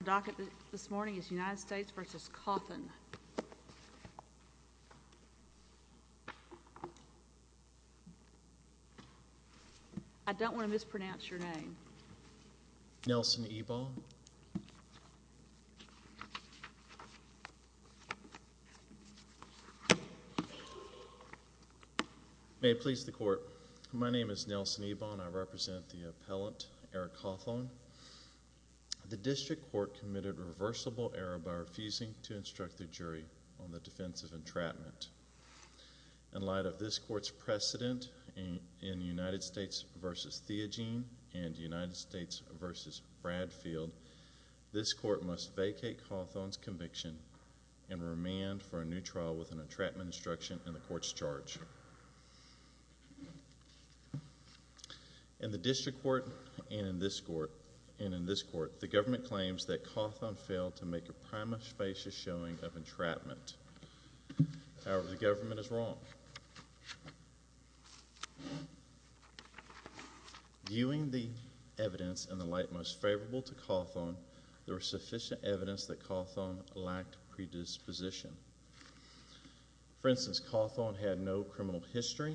Your docket this morning is United States v. Cawthon. I don't want to mispronounce your name. Nelson Ebon. May it please the court, my name is Nelson Ebon and I represent the appellant Eric Cawthon. The district court committed reversible error by refusing to instruct the jury on the defense of entrapment. In light of this court's precedent in United States v. Theogene and United States v. Bradfield, this court must vacate Cawthon's conviction and remand for a new trial with an entrapment instruction in the court's charge. In the district court and in this court, the government claims that Cawthon failed to make a prima facie showing of entrapment. However, the government is wrong. Viewing the evidence in the light most favorable to Cawthon, there was sufficient evidence that Cawthon lacked predisposition. For instance, Cawthon had no criminal history.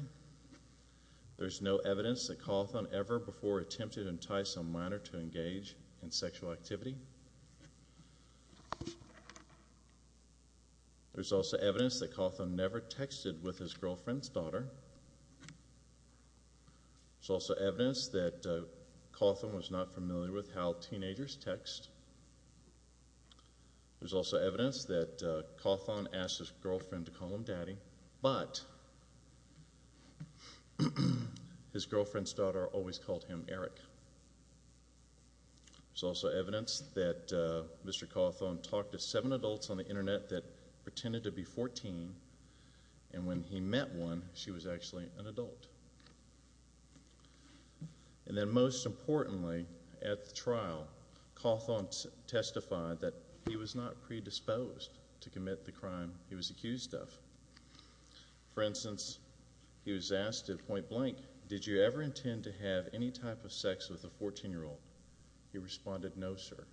There's no evidence that Cawthon ever before attempted to entice a minor to engage in sexual activity. There's also evidence that Cawthon never texted with his girlfriend's daughter. There's also evidence that Cawthon was not familiar with how teenagers text. There's also evidence that Cawthon asked his girlfriend to call him daddy, but his girlfriend's daughter always called him Eric. There's also evidence that Mr. Cawthon talked to seven adults on the internet that pretended to be 14, and when he met one, she was actually an adult. And then most importantly, at the trial, Cawthon testified that he was not predisposed to commit the crime he was accused of. For instance, he was asked at point blank, did you ever intend to have any type of sex with a 14-year-old? He responded, no, sir.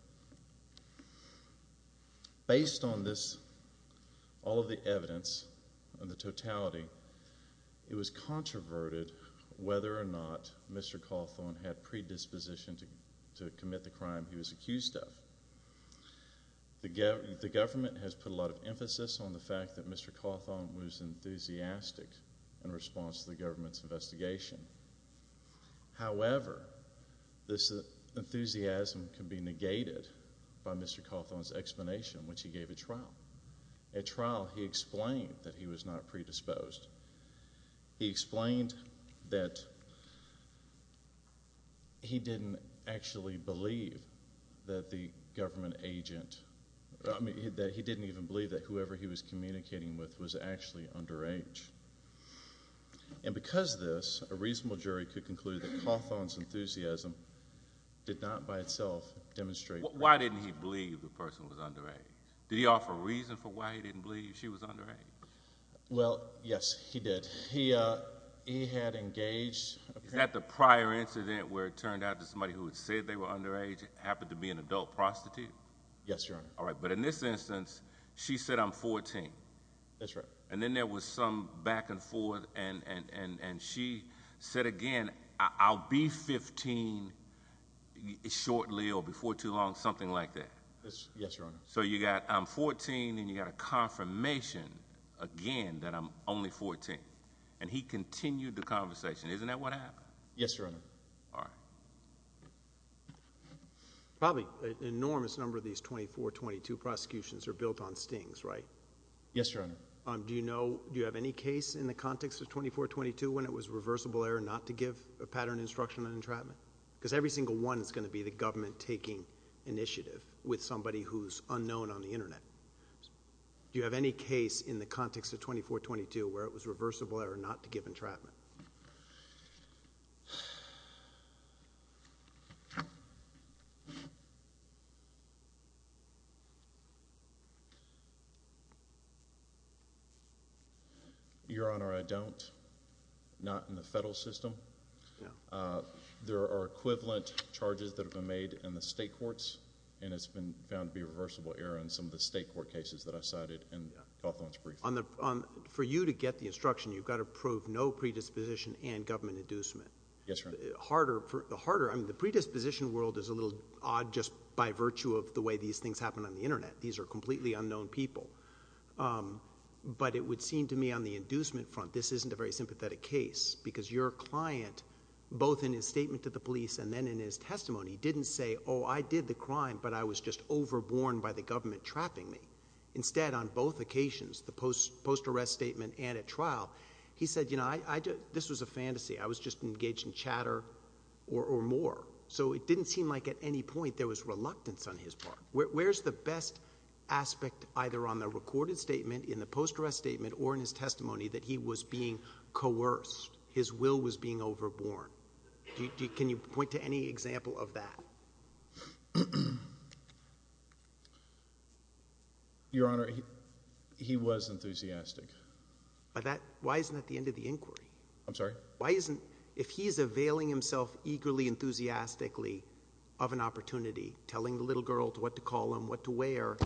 Based on this, all of the evidence and the totality, it was controverted whether or not Mr. Cawthon had predisposition to commit the crime he was accused of. The government has put a lot of emphasis on the fact that Mr. Cawthon was enthusiastic in response to the government's investigation. However, this enthusiasm can be negated by Mr. Cawthon's explanation, which he gave at trial. At trial, he explained that he was not predisposed. He explained that he didn't actually believe that the government agent, that he didn't even believe that whoever he was communicating with was actually underage. And because of this, a reasonable jury could conclude that Cawthon's enthusiasm did not by itself demonstrate that. Why didn't he believe the person was underage? Did he offer a reason for why he didn't believe she was underage? Well, yes, he did. He had engaged... Is that the prior incident where it turned out that somebody who had said they were underage happened to be an adult prostitute? Yes, Your Honor. All right. But in this instance, she said, I'm 14. That's right. And then there was some back and forth, and she said again, I'll be 15 shortly or before too long, something like that. Yes, Your Honor. So you got, I'm 14, and you got a confirmation, again, that I'm only 14. And he continued the conversation. Isn't that what happened? Yes, Your Honor. All right. Probably an enormous number of these 24-22 prosecutions are built on stings, right? Yes, Your Honor. Do you have any case in the context of 24-22 when it was reversible error not to give a pattern instruction on entrapment? Because every single one is going to be the government taking initiative with somebody who's unknown on the Internet. Do you have any case in the context of 24-22 where it was reversible error not to give entrapment? Your Honor, I don't. Not in the federal system. No. There are equivalent charges that have been made in the state courts, and it's been found to be reversible error in some of the state court cases that I've cited in the Gulf Lawrence Briefing. For you to get the instruction, you've got to prove no predisposition and government inducement. Yes, Your Honor. The harder, I mean, the predisposition world is a little odd just by virtue of the way these things happen on the Internet. These are completely unknown people. But it would seem to me on the inducement front, this isn't a very sympathetic case, because your client, both in his statement to the police and then in his testimony, didn't say, oh, I did the crime, but I was just overborne by the government trapping me. Instead, on both occasions, the post-arrest statement and at trial, he said, you know, this was a fantasy. I was just engaged in chatter or more. So it didn't seem like at any point there was reluctance on his part. Where's the best aspect either on the recorded statement, in the post-arrest statement, or in his testimony that he was being coerced, his will was being overborne? Can you point to any example of that? Your Honor, he was enthusiastic. Why isn't that the end of the inquiry? I'm sorry? Why isn't, if he's availing himself eagerly, enthusiastically of an opportunity, telling the little girl what to call him, what to wear,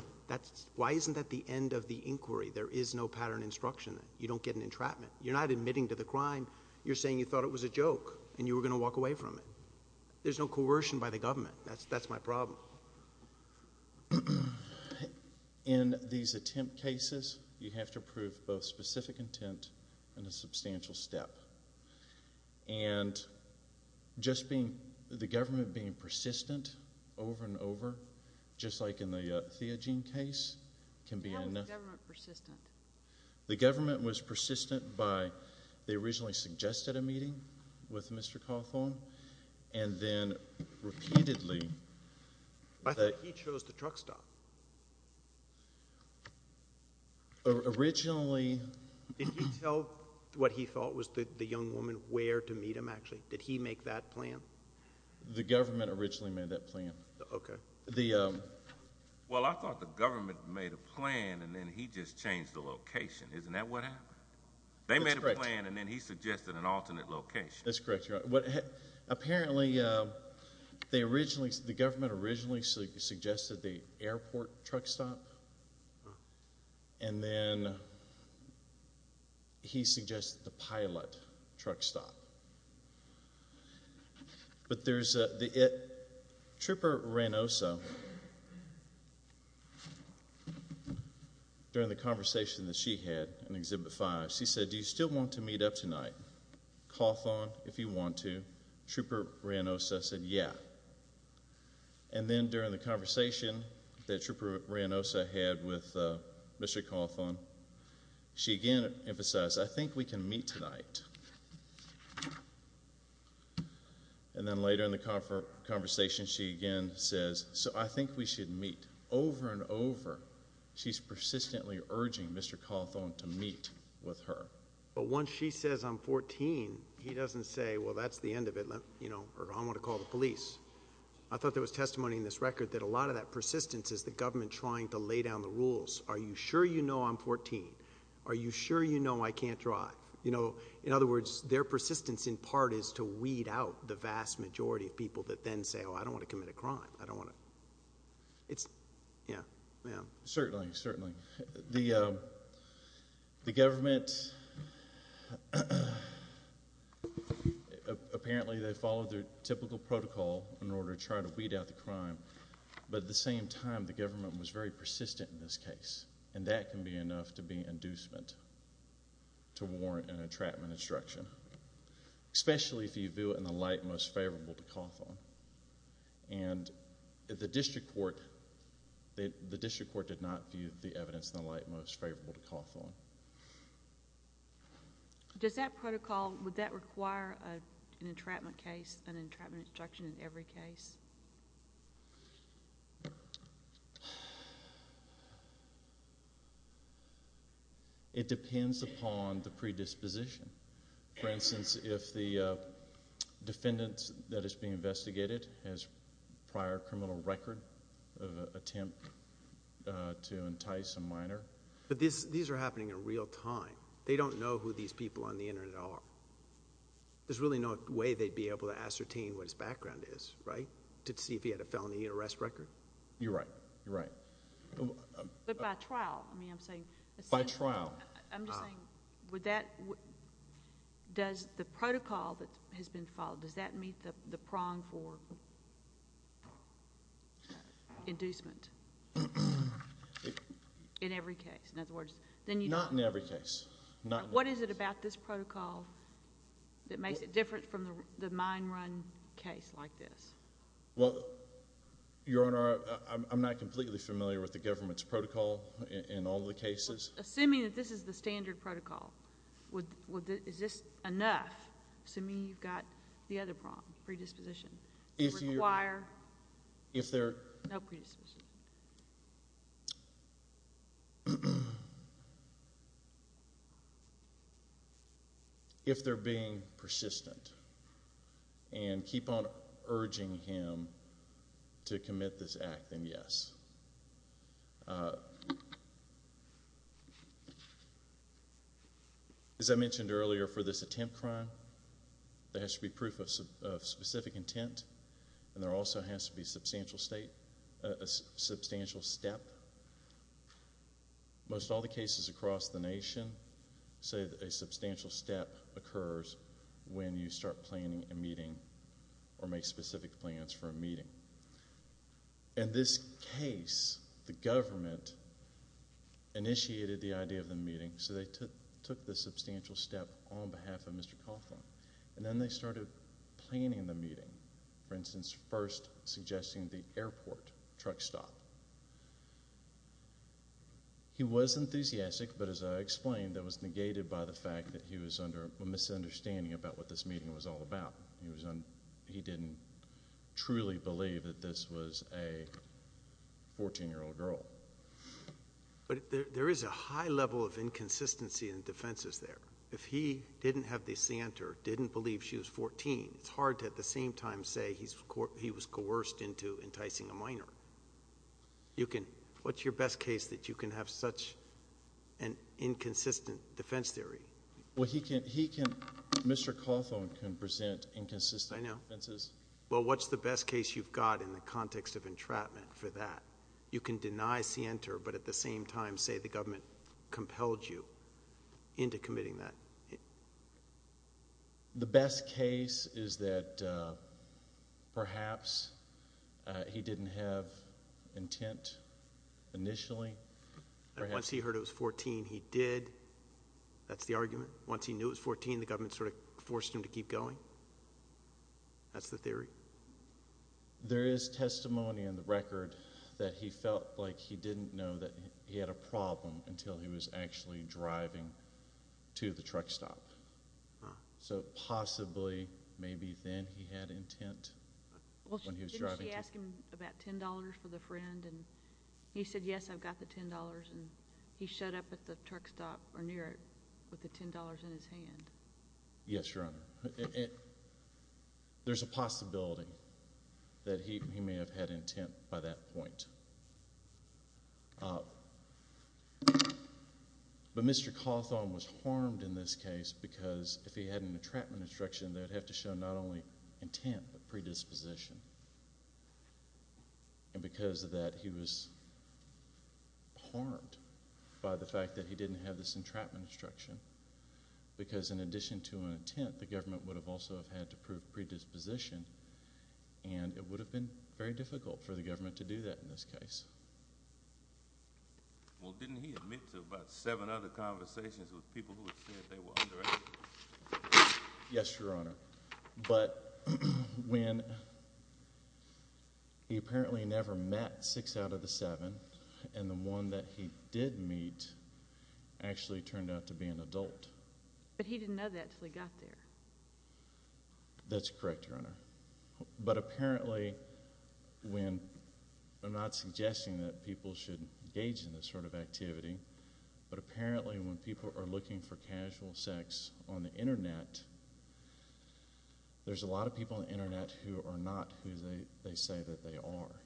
why isn't that the end of the inquiry? There is no pattern instruction. You don't get an entrapment. You're not admitting to the crime. You're saying you thought it was a joke and you were going to walk away from it. There's no coercion by the government. That's my problem. In these attempt cases, you have to prove both specific intent and a substantial step. And just being, the government being persistent over and over, just like in the Theogene case, can be enough. Why was the government persistent? The government was persistent by, they originally suggested a meeting with Mr. Cawthorn, and then repeatedly that I thought he chose the truck stop. Originally Did he tell what he felt was the young woman where to meet him, actually? Did he make that plan? The government originally made that plan. Okay. Well, I thought the government made a plan and then he just changed the location. Isn't that what happened? They made a plan and then he suggested an alternate location. That's correct. Apparently, the government originally suggested the airport truck stop, and then he suggested the pilot truck stop. But there's, Trooper Reynoso, during the conversation that she had in Exhibit 5, she said, do you still want to meet up tonight? Cawthorn, if you want to. Trooper Reynoso said yeah. And then during the conversation that Trooper Reynoso had with Mr. Cawthorn, she again emphasized, I think we can meet tonight. And then later in the conversation, she again says, I think we should meet. Over and over, she's persistently urging Mr. Cawthorn to meet with her. But once she says I'm 14, he doesn't say, well, that's the end of it, or I'm going to call the police. I thought there was testimony in this record that a lot of that persistence is the government trying to lay down the rules. Are you sure you know I'm 14? Are you sure you know I can't drive? In other words, their persistence in part is to weed out the vast majority of people that then say, oh, I don't want to commit a crime. The government, apparently they followed their typical protocol in order to try to weed out a crime. But at the same time, the government was very persistent in this case. And that can be enough to be inducement to warrant an entrapment instruction, especially if you view it in the light most favorable to Cawthorn. And the district court did not view the evidence in the light most favorable to Cawthorn. Does that protocol, would that require an entrapment case, an entrapment instruction in every case? It depends upon the predisposition. For instance, if the defendant that is being investigated has prior criminal record of attempt to entice a minor. But these are happening in real time. They don't know who these people on the Internet are. There's really no way they'd be able to ascertain what his background is, right, to see if he had a felony arrest record? You're right. You're right. But by trial, I mean, I'm saying... By trial. I'm just saying, would that... does the protocol that has been followed, does that meet the prong for inducement in every case? In other words, then you... Not in every case. What is it about this protocol that makes it different from the mine run case like this? Well, Your Honor, I'm not completely familiar with the government's protocol in all the cases. Assuming that this is the standard protocol, is this enough? Assuming you've got the other prong, predisposition, to require no predisposition? If they're being persistent, and keep on urging him to commit this act, then yes. As I mentioned earlier, for this attempt crime, there has to be proof of specific intent, and there also has to be substantial state... substantial step. Most all the cases across the nation say that a substantial step occurs when you start planning a meeting, or make specific plans for a meeting. In this case, the government initiated the idea of the meeting, so they took the substantial step on behalf of Mr. Coughlin. And then they started planning the meeting. For instance, first suggesting the airport truck stop. He was enthusiastic, but as I explained, that was negated by the fact that he was under a misunderstanding about what this meeting was all about. He didn't truly believe that this was a 14-year-old girl. But there is a high level of inconsistency in defenses there. If he didn't have the scienter, didn't believe she was 14, it's hard to at the same time say he was coerced into enticing a minor. You can... what's your best case that you can have such an inconsistent defense theory? Well, he can... he can... Mr. Coughlin can present inconsistent defenses. I know. Well, what's the best case you've got in the context of entrapment for that? You can deny scienter, but at the same time say the government compelled you into committing that. The best case is that perhaps he didn't have intent initially. Once he heard it was 14, he did. That's the argument. Once he knew it was 14, the government sort of forced him to keep going. That's the theory. There is testimony in the record that he felt like he didn't know that he had a problem until he was actually driving to the truck stop. So, possibly, maybe then he had intent when he was driving to... Well, didn't she ask him about $10 for the friend, and he said, yes, I've got the $10, and he showed up at the truck stop or near it with the $10 in his hand? Yes, Your Honor. There's a possibility that he may have had intent by that point. But Mr. Cawthorn was harmed in this case because if he had an entrapment instruction, they'd have to show not only intent but predisposition. And because of that, he was harmed by the fact that he didn't have this entrapment instruction because in addition to intent, the government would have also had to prove predisposition, and it would have been very difficult for the government to do that in this case. Well, didn't he admit to about seven other conversations with people who had said they were underage? Yes, Your Honor. But when he apparently never met six out of the seven, and the one that he did meet actually turned out to be an adult. But he didn't know that until he got there. That's correct, Your Honor. But apparently when... I'm not suggesting that people should engage in this sort of activity, but apparently when people are looking for casual sex on the Internet, there's a lot of people on the Internet who are not who they say that they are.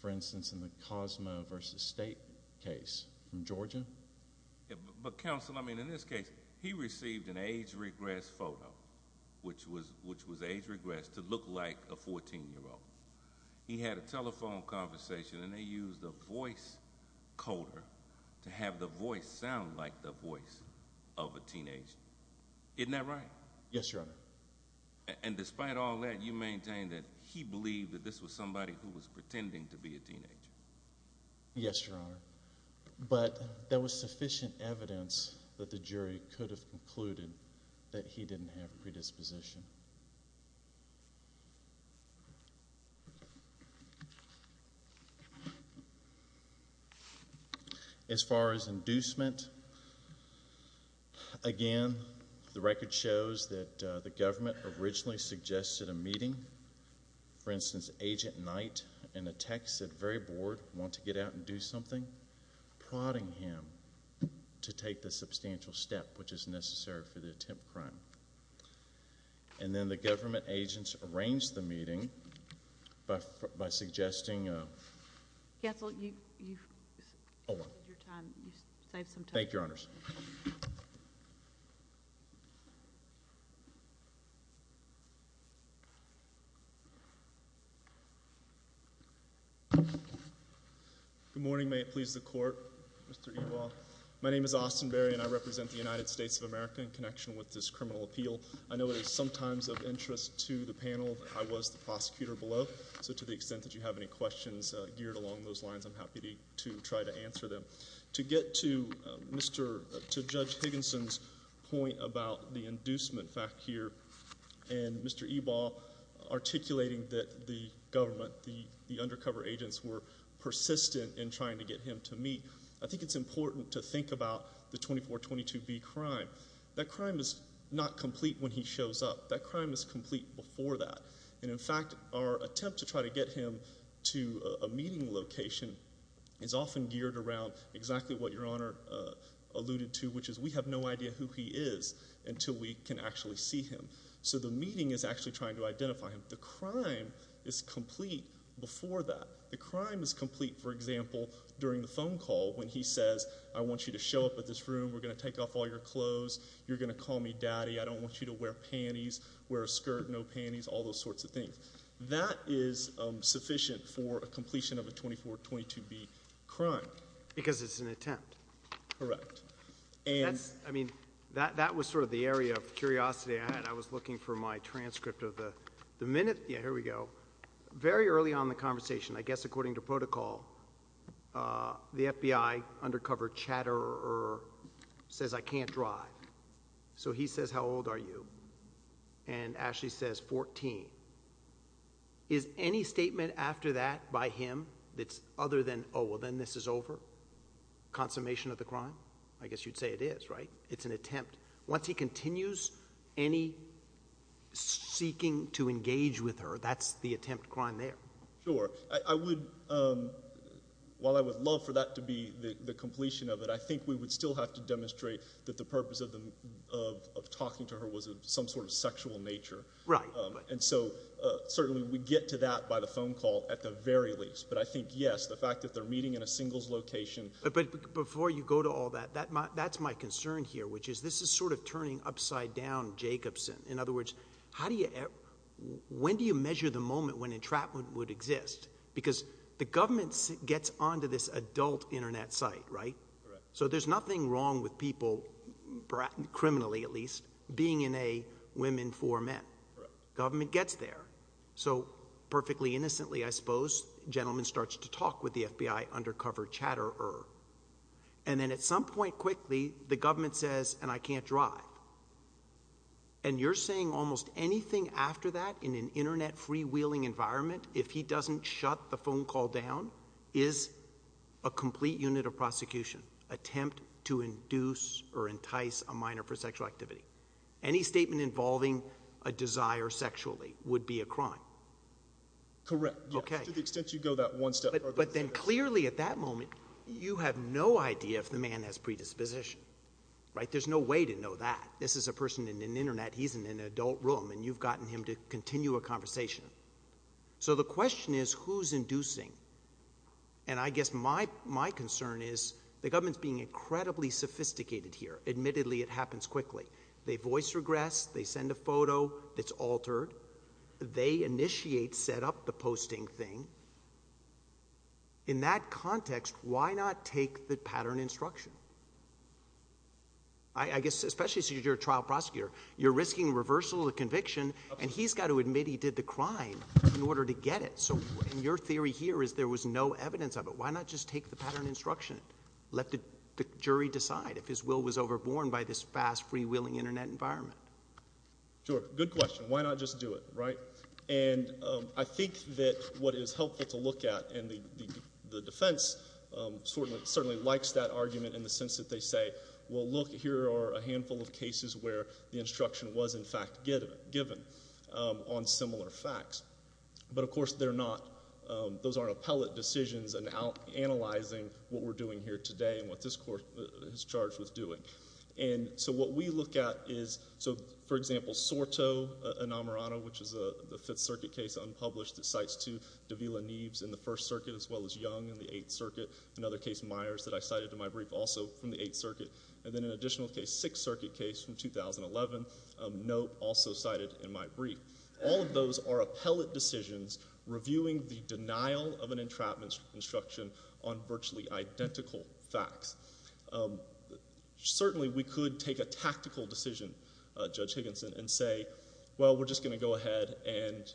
For instance, in the Cosmo v. State case from Georgia... But, Counsel, I mean, in this case, he received an age regress photo, which was age regress to look like a 14-year-old. He had a telephone conversation, and they used a voice coder to have the voice sound like the voice of a teenager. Isn't that right? Yes, Your Honor. And despite all that, you maintain that he believed that this was somebody who was pretending to be a teenager. Yes, Your Honor. But there was sufficient evidence that the jury could have concluded that he didn't have predisposition. As far as inducement, again, the record shows that the government originally suggested a meeting. For instance, Agent Knight in a text said, very bored, want to get out and do something, prodding him to take the substantial step which is necessary for the attempt crime. And then the government agents arranged the meeting by suggesting... Counsel, you've wasted your time. You saved some time. Thank you, Your Honors. Good morning. May it please the Court, Mr. Ewald. My name is Austin Berry, and I represent the United States of America in connection with this criminal appeal. I know it is sometimes of interest to the panel that I was the prosecutor below, so to the extent that you have any questions geared along those lines, I'm happy to try to answer them. To get to Judge Higginson's point about the inducement fact here, and Mr. Ewald articulating that the government, the undercover agents, were persistent in trying to get him to meet, I think it's important to think about the 2422B crime. That crime is not complete when he shows up. That crime is complete before that. And in fact, our attempt to try to get him to a meeting location is often geared around exactly what Your Honor alluded to, which is we have no idea who he is until we can actually see him. So the meeting is actually trying to identify him. The crime is complete before that. The crime is complete, for example, during the phone call when he says, I want you to show up at this room, we're going to take off all your clothes, you're going to call me daddy, I don't want you to wear panties, wear a skirt, no panties, all those sorts of things. That is sufficient for a completion of a 2422B crime. Because it's an attempt. Correct. I mean, that was sort of the area of curiosity I had. I was looking for my transcript of the minute. Yeah, here we go. Very early on in the conversation, I guess according to protocol, the FBI undercover chatterer says I can't drive. So he says, how old are you? And Ashley says 14. Is any statement after that by him that's other than, oh, well, then this is over? Consummation of the crime? I guess you'd say it is, right? It's an attempt. Once he continues any seeking to engage with her, that's the attempt crime there. Sure. I would, while I would love for that to be the completion of it, I think we would still have to demonstrate that the purpose of talking to her was of some sort of sexual nature. Right. And so certainly we get to that by the phone call at the very least. But I think, yes, the fact that they're meeting in a singles location. But before you go to all that, that's my concern here, which is this is sort of turning upside down Jacobson. In other words, how do you, when do you measure the moment when entrapment would exist? Because the government gets onto this adult Internet site, right? Correct. So there's nothing wrong with people, criminally at least, being in a women for men. Correct. Government gets there. So perfectly innocently, I suppose, gentleman starts to talk with the FBI undercover chatterer. And then at some point quickly the government says, and I can't drive. And you're saying almost anything after that in an Internet freewheeling environment, if he doesn't shut the phone call down, is a complete unit of prosecution, attempt to induce or entice a minor for sexual activity. Any statement involving a desire sexually would be a crime. Correct. To the extent you go that one step further. But then clearly at that moment you have no idea if the man has predisposition, right? There's no way to know that. This is a person in an Internet. He's in an adult room. And you've gotten him to continue a conversation. So the question is who's inducing? And I guess my concern is the government's being incredibly sophisticated here. Admittedly, it happens quickly. They voice regress. They send a photo that's altered. They initiate, set up the posting thing. In that context, why not take the pattern instruction? I guess especially since you're a trial prosecutor, you're risking reversal of conviction, and he's got to admit he did the crime in order to get it. So your theory here is there was no evidence of it. Why not just take the pattern instruction? Let the jury decide if his will was overborne by this fast, freewheeling Internet environment. Sure. Good question. Why not just do it, right? And I think that what is helpful to look at, and the defense certainly likes that argument in the sense that they say, well, look, here are a handful of cases where the instruction was, in fact, given on similar facts. But, of course, they're not. Those aren't appellate decisions analyzing what we're doing here today and what this court is charged with doing. And so what we look at is, so, for example, Soto Enamorado, which is a Fifth Circuit case, unpublished, that cites two Davila Neeves in the First Circuit as well as Young in the Eighth Circuit, another case, Myers, that I cited in my brief, also from the Eighth Circuit, and then an additional case, Sixth Circuit case from 2011, Nope, also cited in my brief. All of those are appellate decisions reviewing the denial of an entrapment instruction on virtually identical facts. Certainly, we could take a tactical decision, Judge Higginson, and say, well, we're just going to go ahead and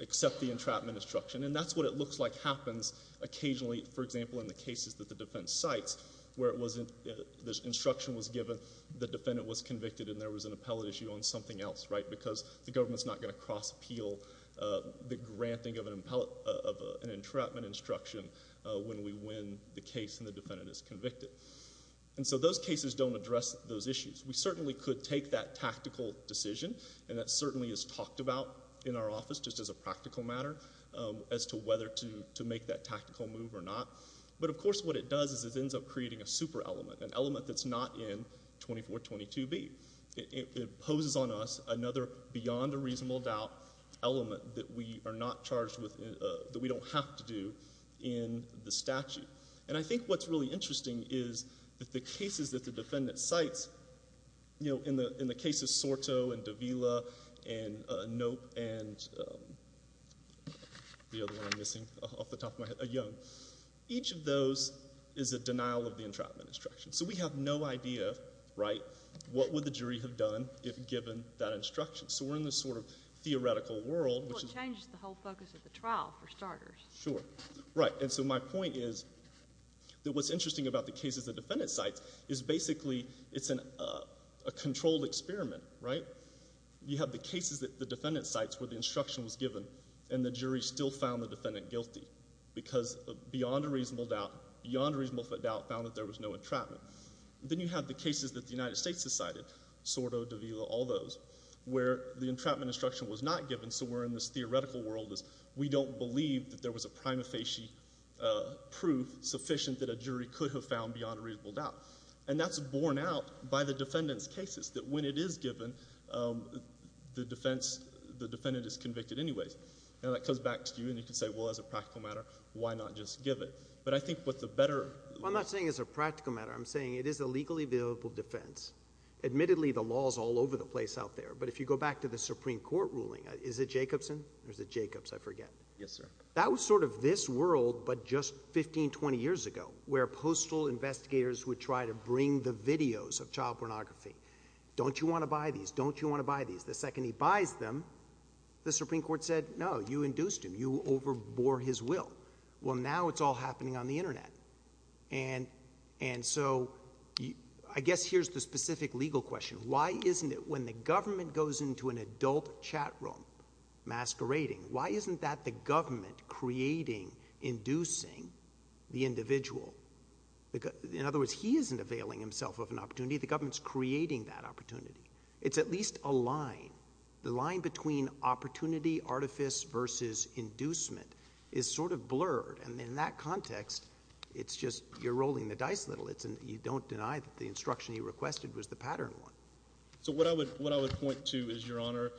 accept the entrapment instruction. And that's what it looks like happens occasionally, for example, in the cases that the defense cites, where the instruction was given, the defendant was convicted, and there was an appellate issue on something else, right? Because the government's not going to cross-appeal the granting of an entrapment instruction when we win the case and the defendant is convicted. And so those cases don't address those issues. We certainly could take that tactical decision, and that certainly is talked about in our office, just as a practical matter, as to whether to make that tactical move or not. But, of course, what it does is it ends up creating a super element, an element that's not in 2422B. It imposes on us another beyond a reasonable doubt element that we are not charged with, that we don't have to do in the statute. And I think what's really interesting is that the cases that the defendant cites, you know, each of those is a denial of the entrapment instruction. So we have no idea, right, what would the jury have done if given that instruction. So we're in this sort of theoretical world. Well, it changes the whole focus of the trial, for starters. Sure. Right. And so my point is that what's interesting about the cases the defendant cites is basically it's a controlled experiment, right? You have the cases that the defendant cites where the instruction was given and the jury still found the defendant guilty because beyond a reasonable doubt, beyond a reasonable doubt, found that there was no entrapment. Then you have the cases that the United States has cited, Sordo, Davila, all those, where the entrapment instruction was not given, so we're in this theoretical world as we don't believe that there was a prima facie proof sufficient that a jury could have found beyond a reasonable doubt. And that's borne out by the defendant's cases, that when it is given, the defense, the defendant is convicted anyways. Now that comes back to you, and you can say, well, as a practical matter, why not just give it? But I think what the better— I'm not saying it's a practical matter. I'm saying it is a legally available defense. Admittedly, the law is all over the place out there, but if you go back to the Supreme Court ruling, is it Jacobson or is it Jacobs? I forget. Yes, sir. That was sort of this world but just 15, 20 years ago where postal investigators would try to bring the videos of child pornography. Don't you want to buy these? Don't you want to buy these? The second he buys them, the Supreme Court said, no, you induced him. You overbore his will. Well, now it's all happening on the Internet. And so I guess here's the specific legal question. Why isn't it when the government goes into an adult chat room masquerading, why isn't that the government creating, inducing the individual? In other words, he isn't availing himself of an opportunity. The government's creating that opportunity. It's at least a line. The line between opportunity, artifice versus inducement is sort of blurred. And in that context, it's just you're rolling the dice a little. You don't deny that the instruction he requested was the pattern one. So what I would point to is, Your Honor,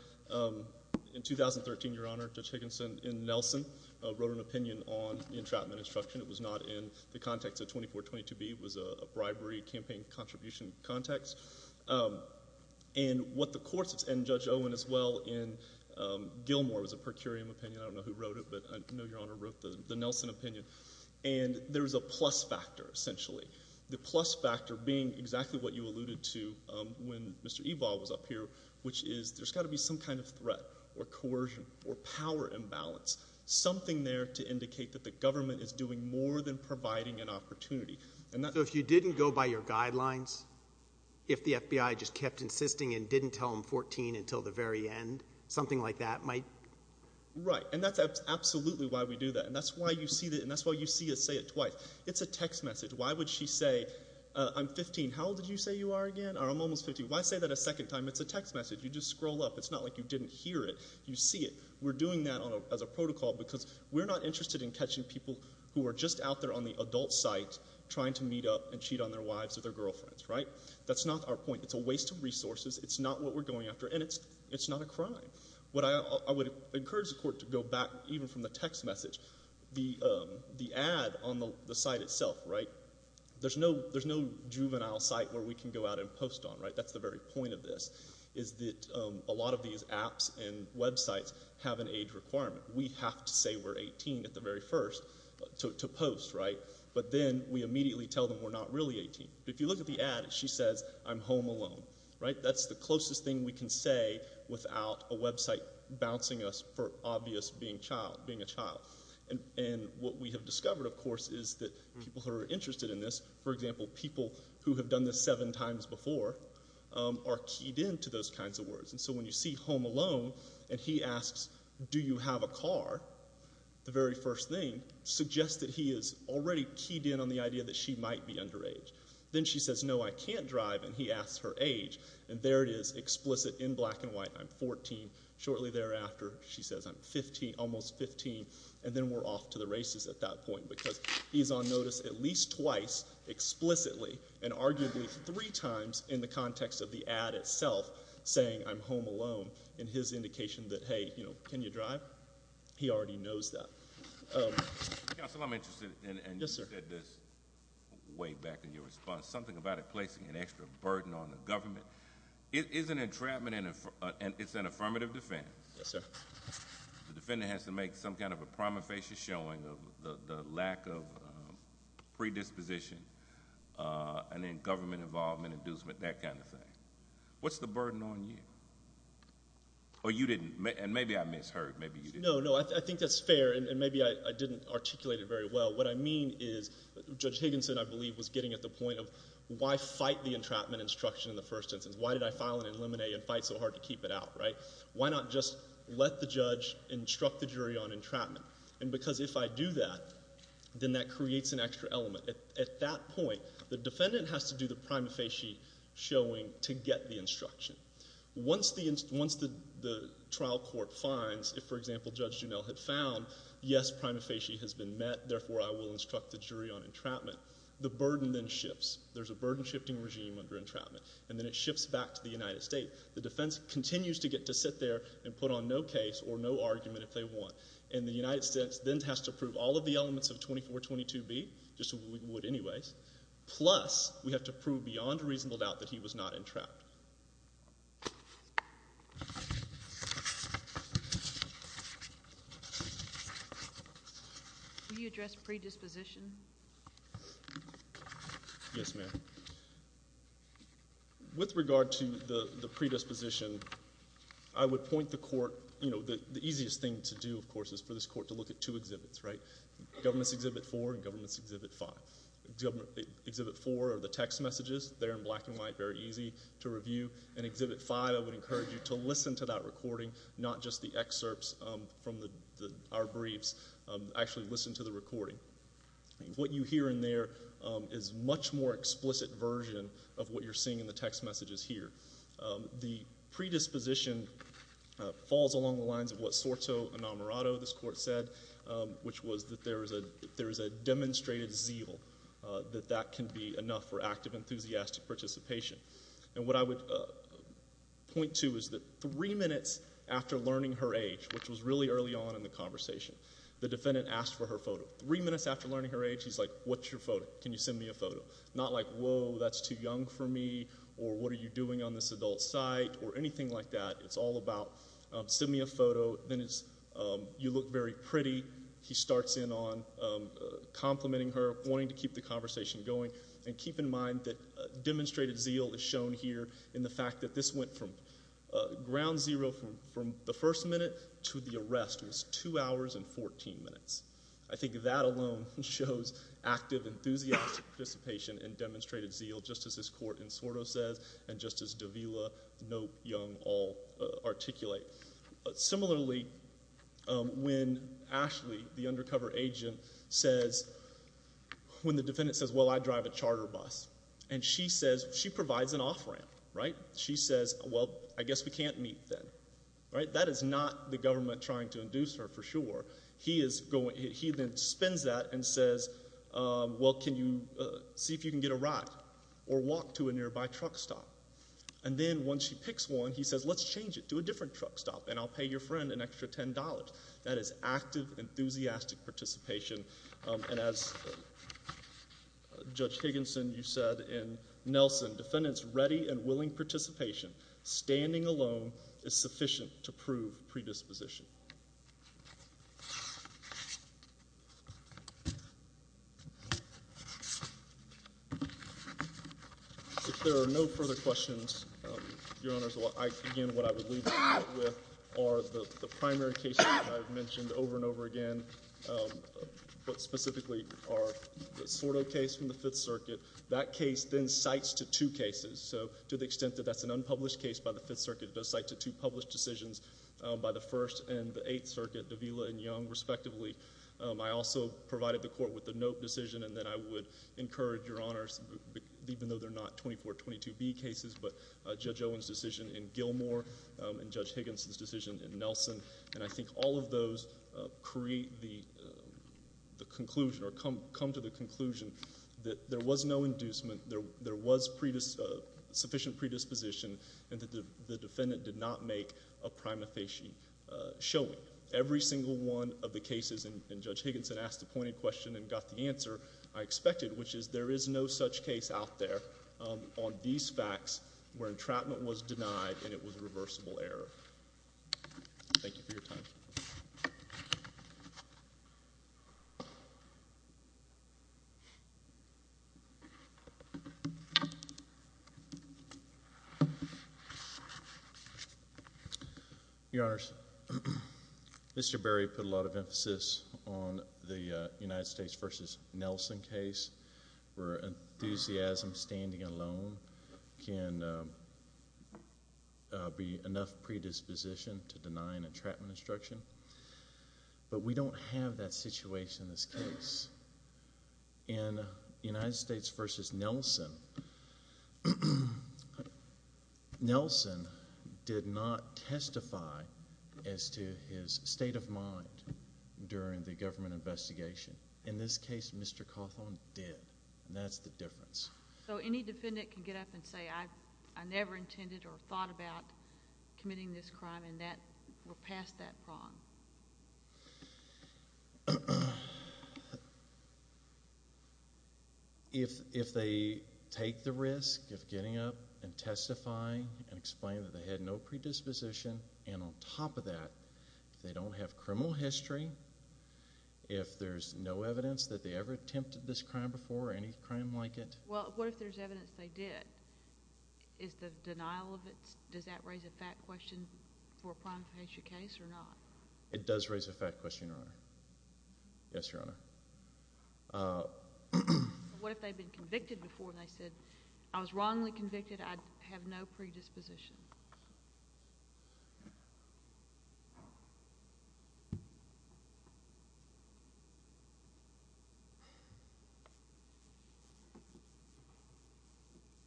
in 2013, Your Honor, Judge Higginson in Nelson wrote an opinion on the entrapment instruction. It was not in the context of 2422B. It was a bribery campaign contribution context. And what the courts, and Judge Owen as well in Gilmore was a per curiam opinion. I don't know who wrote it, but I know Your Honor wrote the Nelson opinion. And there's a plus factor, essentially. The plus factor being exactly what you alluded to when Mr. Evol was up here, which is there's got to be some kind of threat or coercion or power imbalance, something there to indicate that the government is doing more than providing an opportunity. So if you didn't go by your guidelines, if the FBI just kept insisting and didn't tell them 14 until the very end, something like that might? Right, and that's absolutely why we do that. And that's why you see us say it twice. It's a text message. Why would she say, I'm 15. How old did you say you are again? I'm almost 15. Why say that a second time? It's a text message. You just scroll up. It's not like you didn't hear it. You see it. We're doing that as a protocol because we're not interested in catching people who are just out there on the adult site trying to meet up and cheat on their wives or their girlfriends, right? That's not our point. It's a waste of resources. It's not what we're going after, and it's not a crime. What I would encourage the court to go back, even from the text message, the ad on the site itself, right, there's no juvenile site where we can go out and post on, right? That's the very point of this is that a lot of these apps and websites have an age requirement. We have to say we're 18 at the very first to post, right? But then we immediately tell them we're not really 18. If you look at the ad, she says, I'm home alone, right? That's the closest thing we can say without a website bouncing us for obvious being a child. And what we have discovered, of course, is that people who are interested in this, for example, people who have done this seven times before are keyed in to those kinds of words. And so when you see home alone and he asks, do you have a car, the very first thing suggests that he is already keyed in on the idea that she might be underage. Then she says, no, I can't drive, and he asks her age. And there it is explicit in black and white, I'm 14. Shortly thereafter, she says, I'm 15, almost 15, and then we're off to the races at that point because he's on notice at least twice explicitly and arguably three times in the context of the ad itself saying I'm home alone in his indication that, hey, can you drive? He already knows that. Counsel, I'm interested in this way back in your response, something about it placing an extra burden on the government. It is an entrapment and it's an affirmative defense. Yes, sir. The defendant has to make some kind of a prima facie showing of the lack of predisposition and then government involvement, inducement, that kind of thing. What's the burden on you? Or you didn't, and maybe I misheard, maybe you didn't. No, no, I think that's fair, and maybe I didn't articulate it very well. What I mean is Judge Higginson, I believe, was getting at the point of why fight the entrapment instruction in the first instance. Why did I file it in limine and fight so hard to keep it out, right? Why not just let the judge instruct the jury on entrapment? And because if I do that, then that creates an extra element. At that point, the defendant has to do the prima facie showing to get the instruction. Once the trial court finds, if, for example, Judge Juneau had found, yes, prima facie has been met, therefore I will instruct the jury on entrapment, the burden then shifts. There's a burden shifting regime under entrapment, and then it shifts back to the United States. The defense continues to get to sit there and put on no case or no argument if they want, and the United States then has to prove all of the elements of 2422B, just as we would anyways, plus we have to prove beyond reasonable doubt that he was not entrapped. Will you address predisposition? Yes, ma'am. With regard to the predisposition, I would point the court, you know, the easiest thing to do, of course, is for this court to look at two exhibits, right? Government's Exhibit 4 and Government's Exhibit 5. Exhibit 4 are the text messages. They're in black and white, very easy to review. And Exhibit 5, I would encourage you to listen to that recording, not just the excerpts from our briefs. Actually listen to the recording. What you hear in there is a much more explicit version of what you're seeing in the text messages here. The predisposition falls along the lines of what Sorto Enamorado, this court said, which was that there is a demonstrated zeal that that can be enough for active, enthusiastic participation. And what I would point to is that three minutes after learning her age, which was really early on in the conversation, the defendant asked for her photo. Three minutes after learning her age, he's like, what's your photo? Can you send me a photo? Not like, whoa, that's too young for me, or what are you doing on this adult site, or anything like that. It's all about, send me a photo. Then it's, you look very pretty. He starts in on complimenting her, wanting to keep the conversation going. And keep in mind that demonstrated zeal is shown here in the fact that this went from ground zero from the first minute to the arrest. It was two hours and 14 minutes. I think that alone shows active, enthusiastic participation in demonstrated zeal, just as this court in Sorto says, and just as Davila, Knope, Young all articulate. Similarly, when Ashley, the undercover agent, says, when the defendant says, well, I drive a charter bus, and she says, she provides an off ramp, right? She says, well, I guess we can't meet then, right? That is not the government trying to induce her, for sure. He then spins that and says, well, can you see if you can get a ride, or walk to a nearby truck stop. And then once she picks one, he says, let's change it, do a different truck stop, and I'll pay your friend an extra $10. That is active, enthusiastic participation. And as Judge Higginson, you said, and Nelson, defendant's ready and willing participation, standing alone, is sufficient to prove predisposition. If there are no further questions, Your Honors, again, what I would leave you with are the primary cases that I've mentioned over and over again. What specifically are the Sordo case from the Fifth Circuit. That case then cites to two cases. So to the extent that that's an unpublished case by the Fifth Circuit, it does cite to two published decisions by the First and the Eighth Circuit, Davila and Young, respectively. I also provided the Court with the Knope decision, and then I would encourage, Your Honors, even though they're not 2422B cases, but Judge Owen's decision in Gilmore and Judge Higginson's decision in Nelson. And I think all of those create the conclusion or come to the conclusion that there was no inducement, there was sufficient predisposition, and that the defendant did not make a prima facie showing. Every single one of the cases in Judge Higginson asked a pointed question and got the answer I expected, which is there is no such case out there on these facts where entrapment was denied and it was reversible error. Thank you for your time. Your Honors, Mr. Berry put a lot of emphasis on the United States v. Nelson case where enthusiasm standing alone can be enough predisposition to deny an entrapment instruction, but we don't have that situation in this case. In United States v. Nelson, Nelson did not testify as to his state of mind during the government investigation. In this case, Mr. Cawthorn did, and that's the difference. So any defendant can get up and say, I never intended or thought about committing this crime, and we're past that prong. If they take the risk of getting up and testifying and explaining that they had no predisposition, and on top of that, if they don't have criminal history, if there's no evidence that they ever attempted this crime before or any crime like it. Well, what if there's evidence they did? Is the denial of it, does that raise a fact question for a prime faction case or not? It does raise a fact question, Your Honor. Yes, Your Honor. What if they've been convicted before and they said, I was wrongly convicted, I have no predisposition?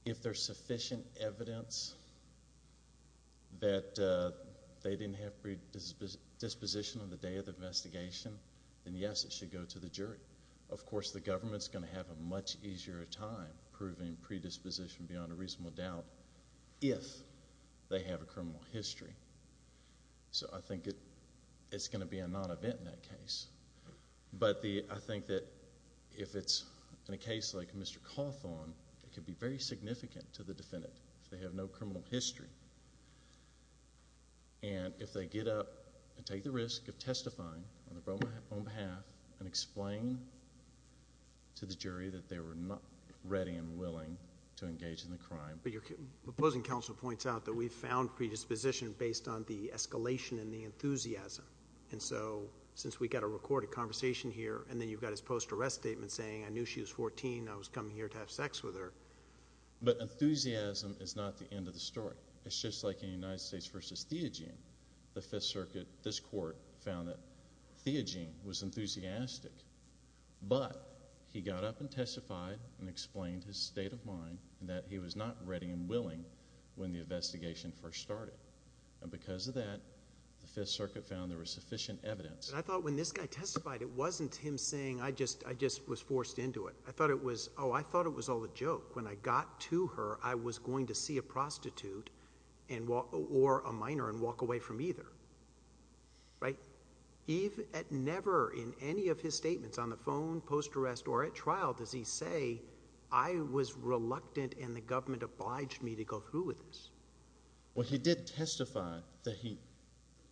If there's sufficient evidence that they didn't have predisposition on the day of the investigation, then yes, it should go to the jury. Of course, the government's going to have a much easier time proving predisposition beyond a reasonable doubt if they have a criminal history. So I think it's going to be a non-event in that case. But I think that if it's in a case like Mr. Cawthorn, it could be very significant to the defendant if they have no criminal history. And if they get up and take the risk of testifying on their own behalf and explain to the jury that they were not ready and willing to engage in the crime. But your opposing counsel points out that we found predisposition based on the escalation in the enthusiasm. And so since we've got a recorded conversation here and then you've got his post-arrest statement saying, I knew she was 14, I was coming here to have sex with her. But enthusiasm is not the end of the story. It's just like in the United States v. Theogene. The Fifth Circuit, this court, found that Theogene was enthusiastic. But he got up and testified and explained his state of mind and that he was not ready and willing when the investigation first started. And because of that, the Fifth Circuit found there was sufficient evidence. I thought when this guy testified, it wasn't him saying I just was forced into it. I thought it was, oh, I thought it was all a joke. When I got to her, I was going to see a prostitute or a minor and walk away from either. Eve, at never in any of his statements on the phone, post-arrest, or at trial, does he say, I was reluctant and the government obliged me to go through with this? Well, he did testify that he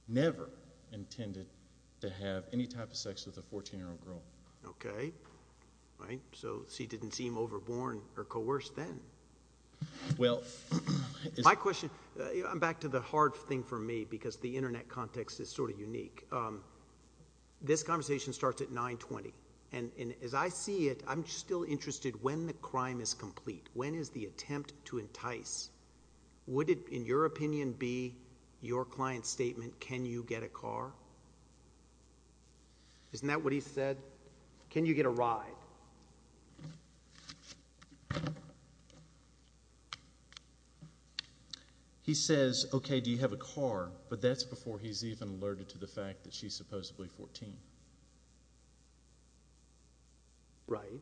never intended to have any type of sex with a 14-year-old girl. Okay. So she didn't seem overborn or coerced then. Well, it's my question. I'm back to the hard thing for me because the Internet context is sort of unique. This conversation starts at 920. And as I see it, I'm still interested when the crime is complete. When is the attempt to entice? Would it, in your opinion, be your client's statement, can you get a car? Isn't that what he said? Can you get a ride? He says, okay, do you have a car? But that's before he's even alerted to the fact that she's supposedly 14. Right.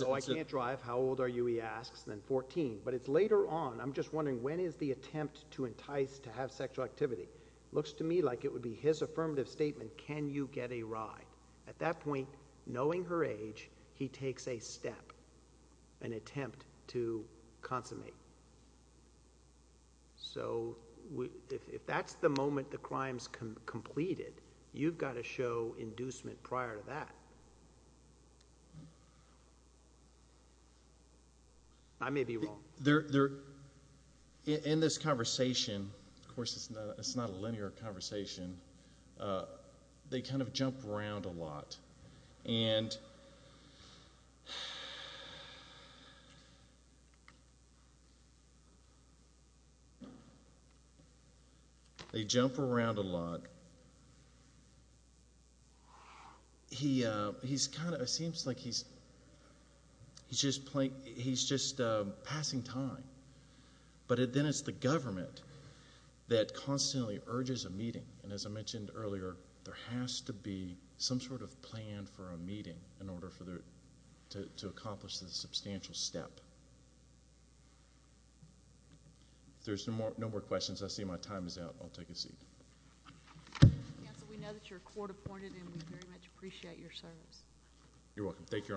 No, I can't drive. How old are you, he asks, then 14. But it's later on. I'm just wondering, when is the attempt to entice, to have sexual activity? Looks to me like it would be his affirmative statement, can you get a ride? At that point, knowing her age, he takes a step, an attempt to consummate. So if that's the moment the crime's completed, you've got to show inducement prior to that. I may be wrong. In this conversation, of course it's not a linear conversation, they kind of jump around a lot. They jump around a lot. But he's kind of, it seems like he's just passing time. But then it's the government that constantly urges a meeting. And as I mentioned earlier, there has to be some sort of plan for a meeting in order to accomplish this substantial step. If there's no more questions, I see my time is out. I'll take a seat. Counsel, we know that you're court appointed and we very much appreciate your service. You're welcome. Thank you, Your Honors.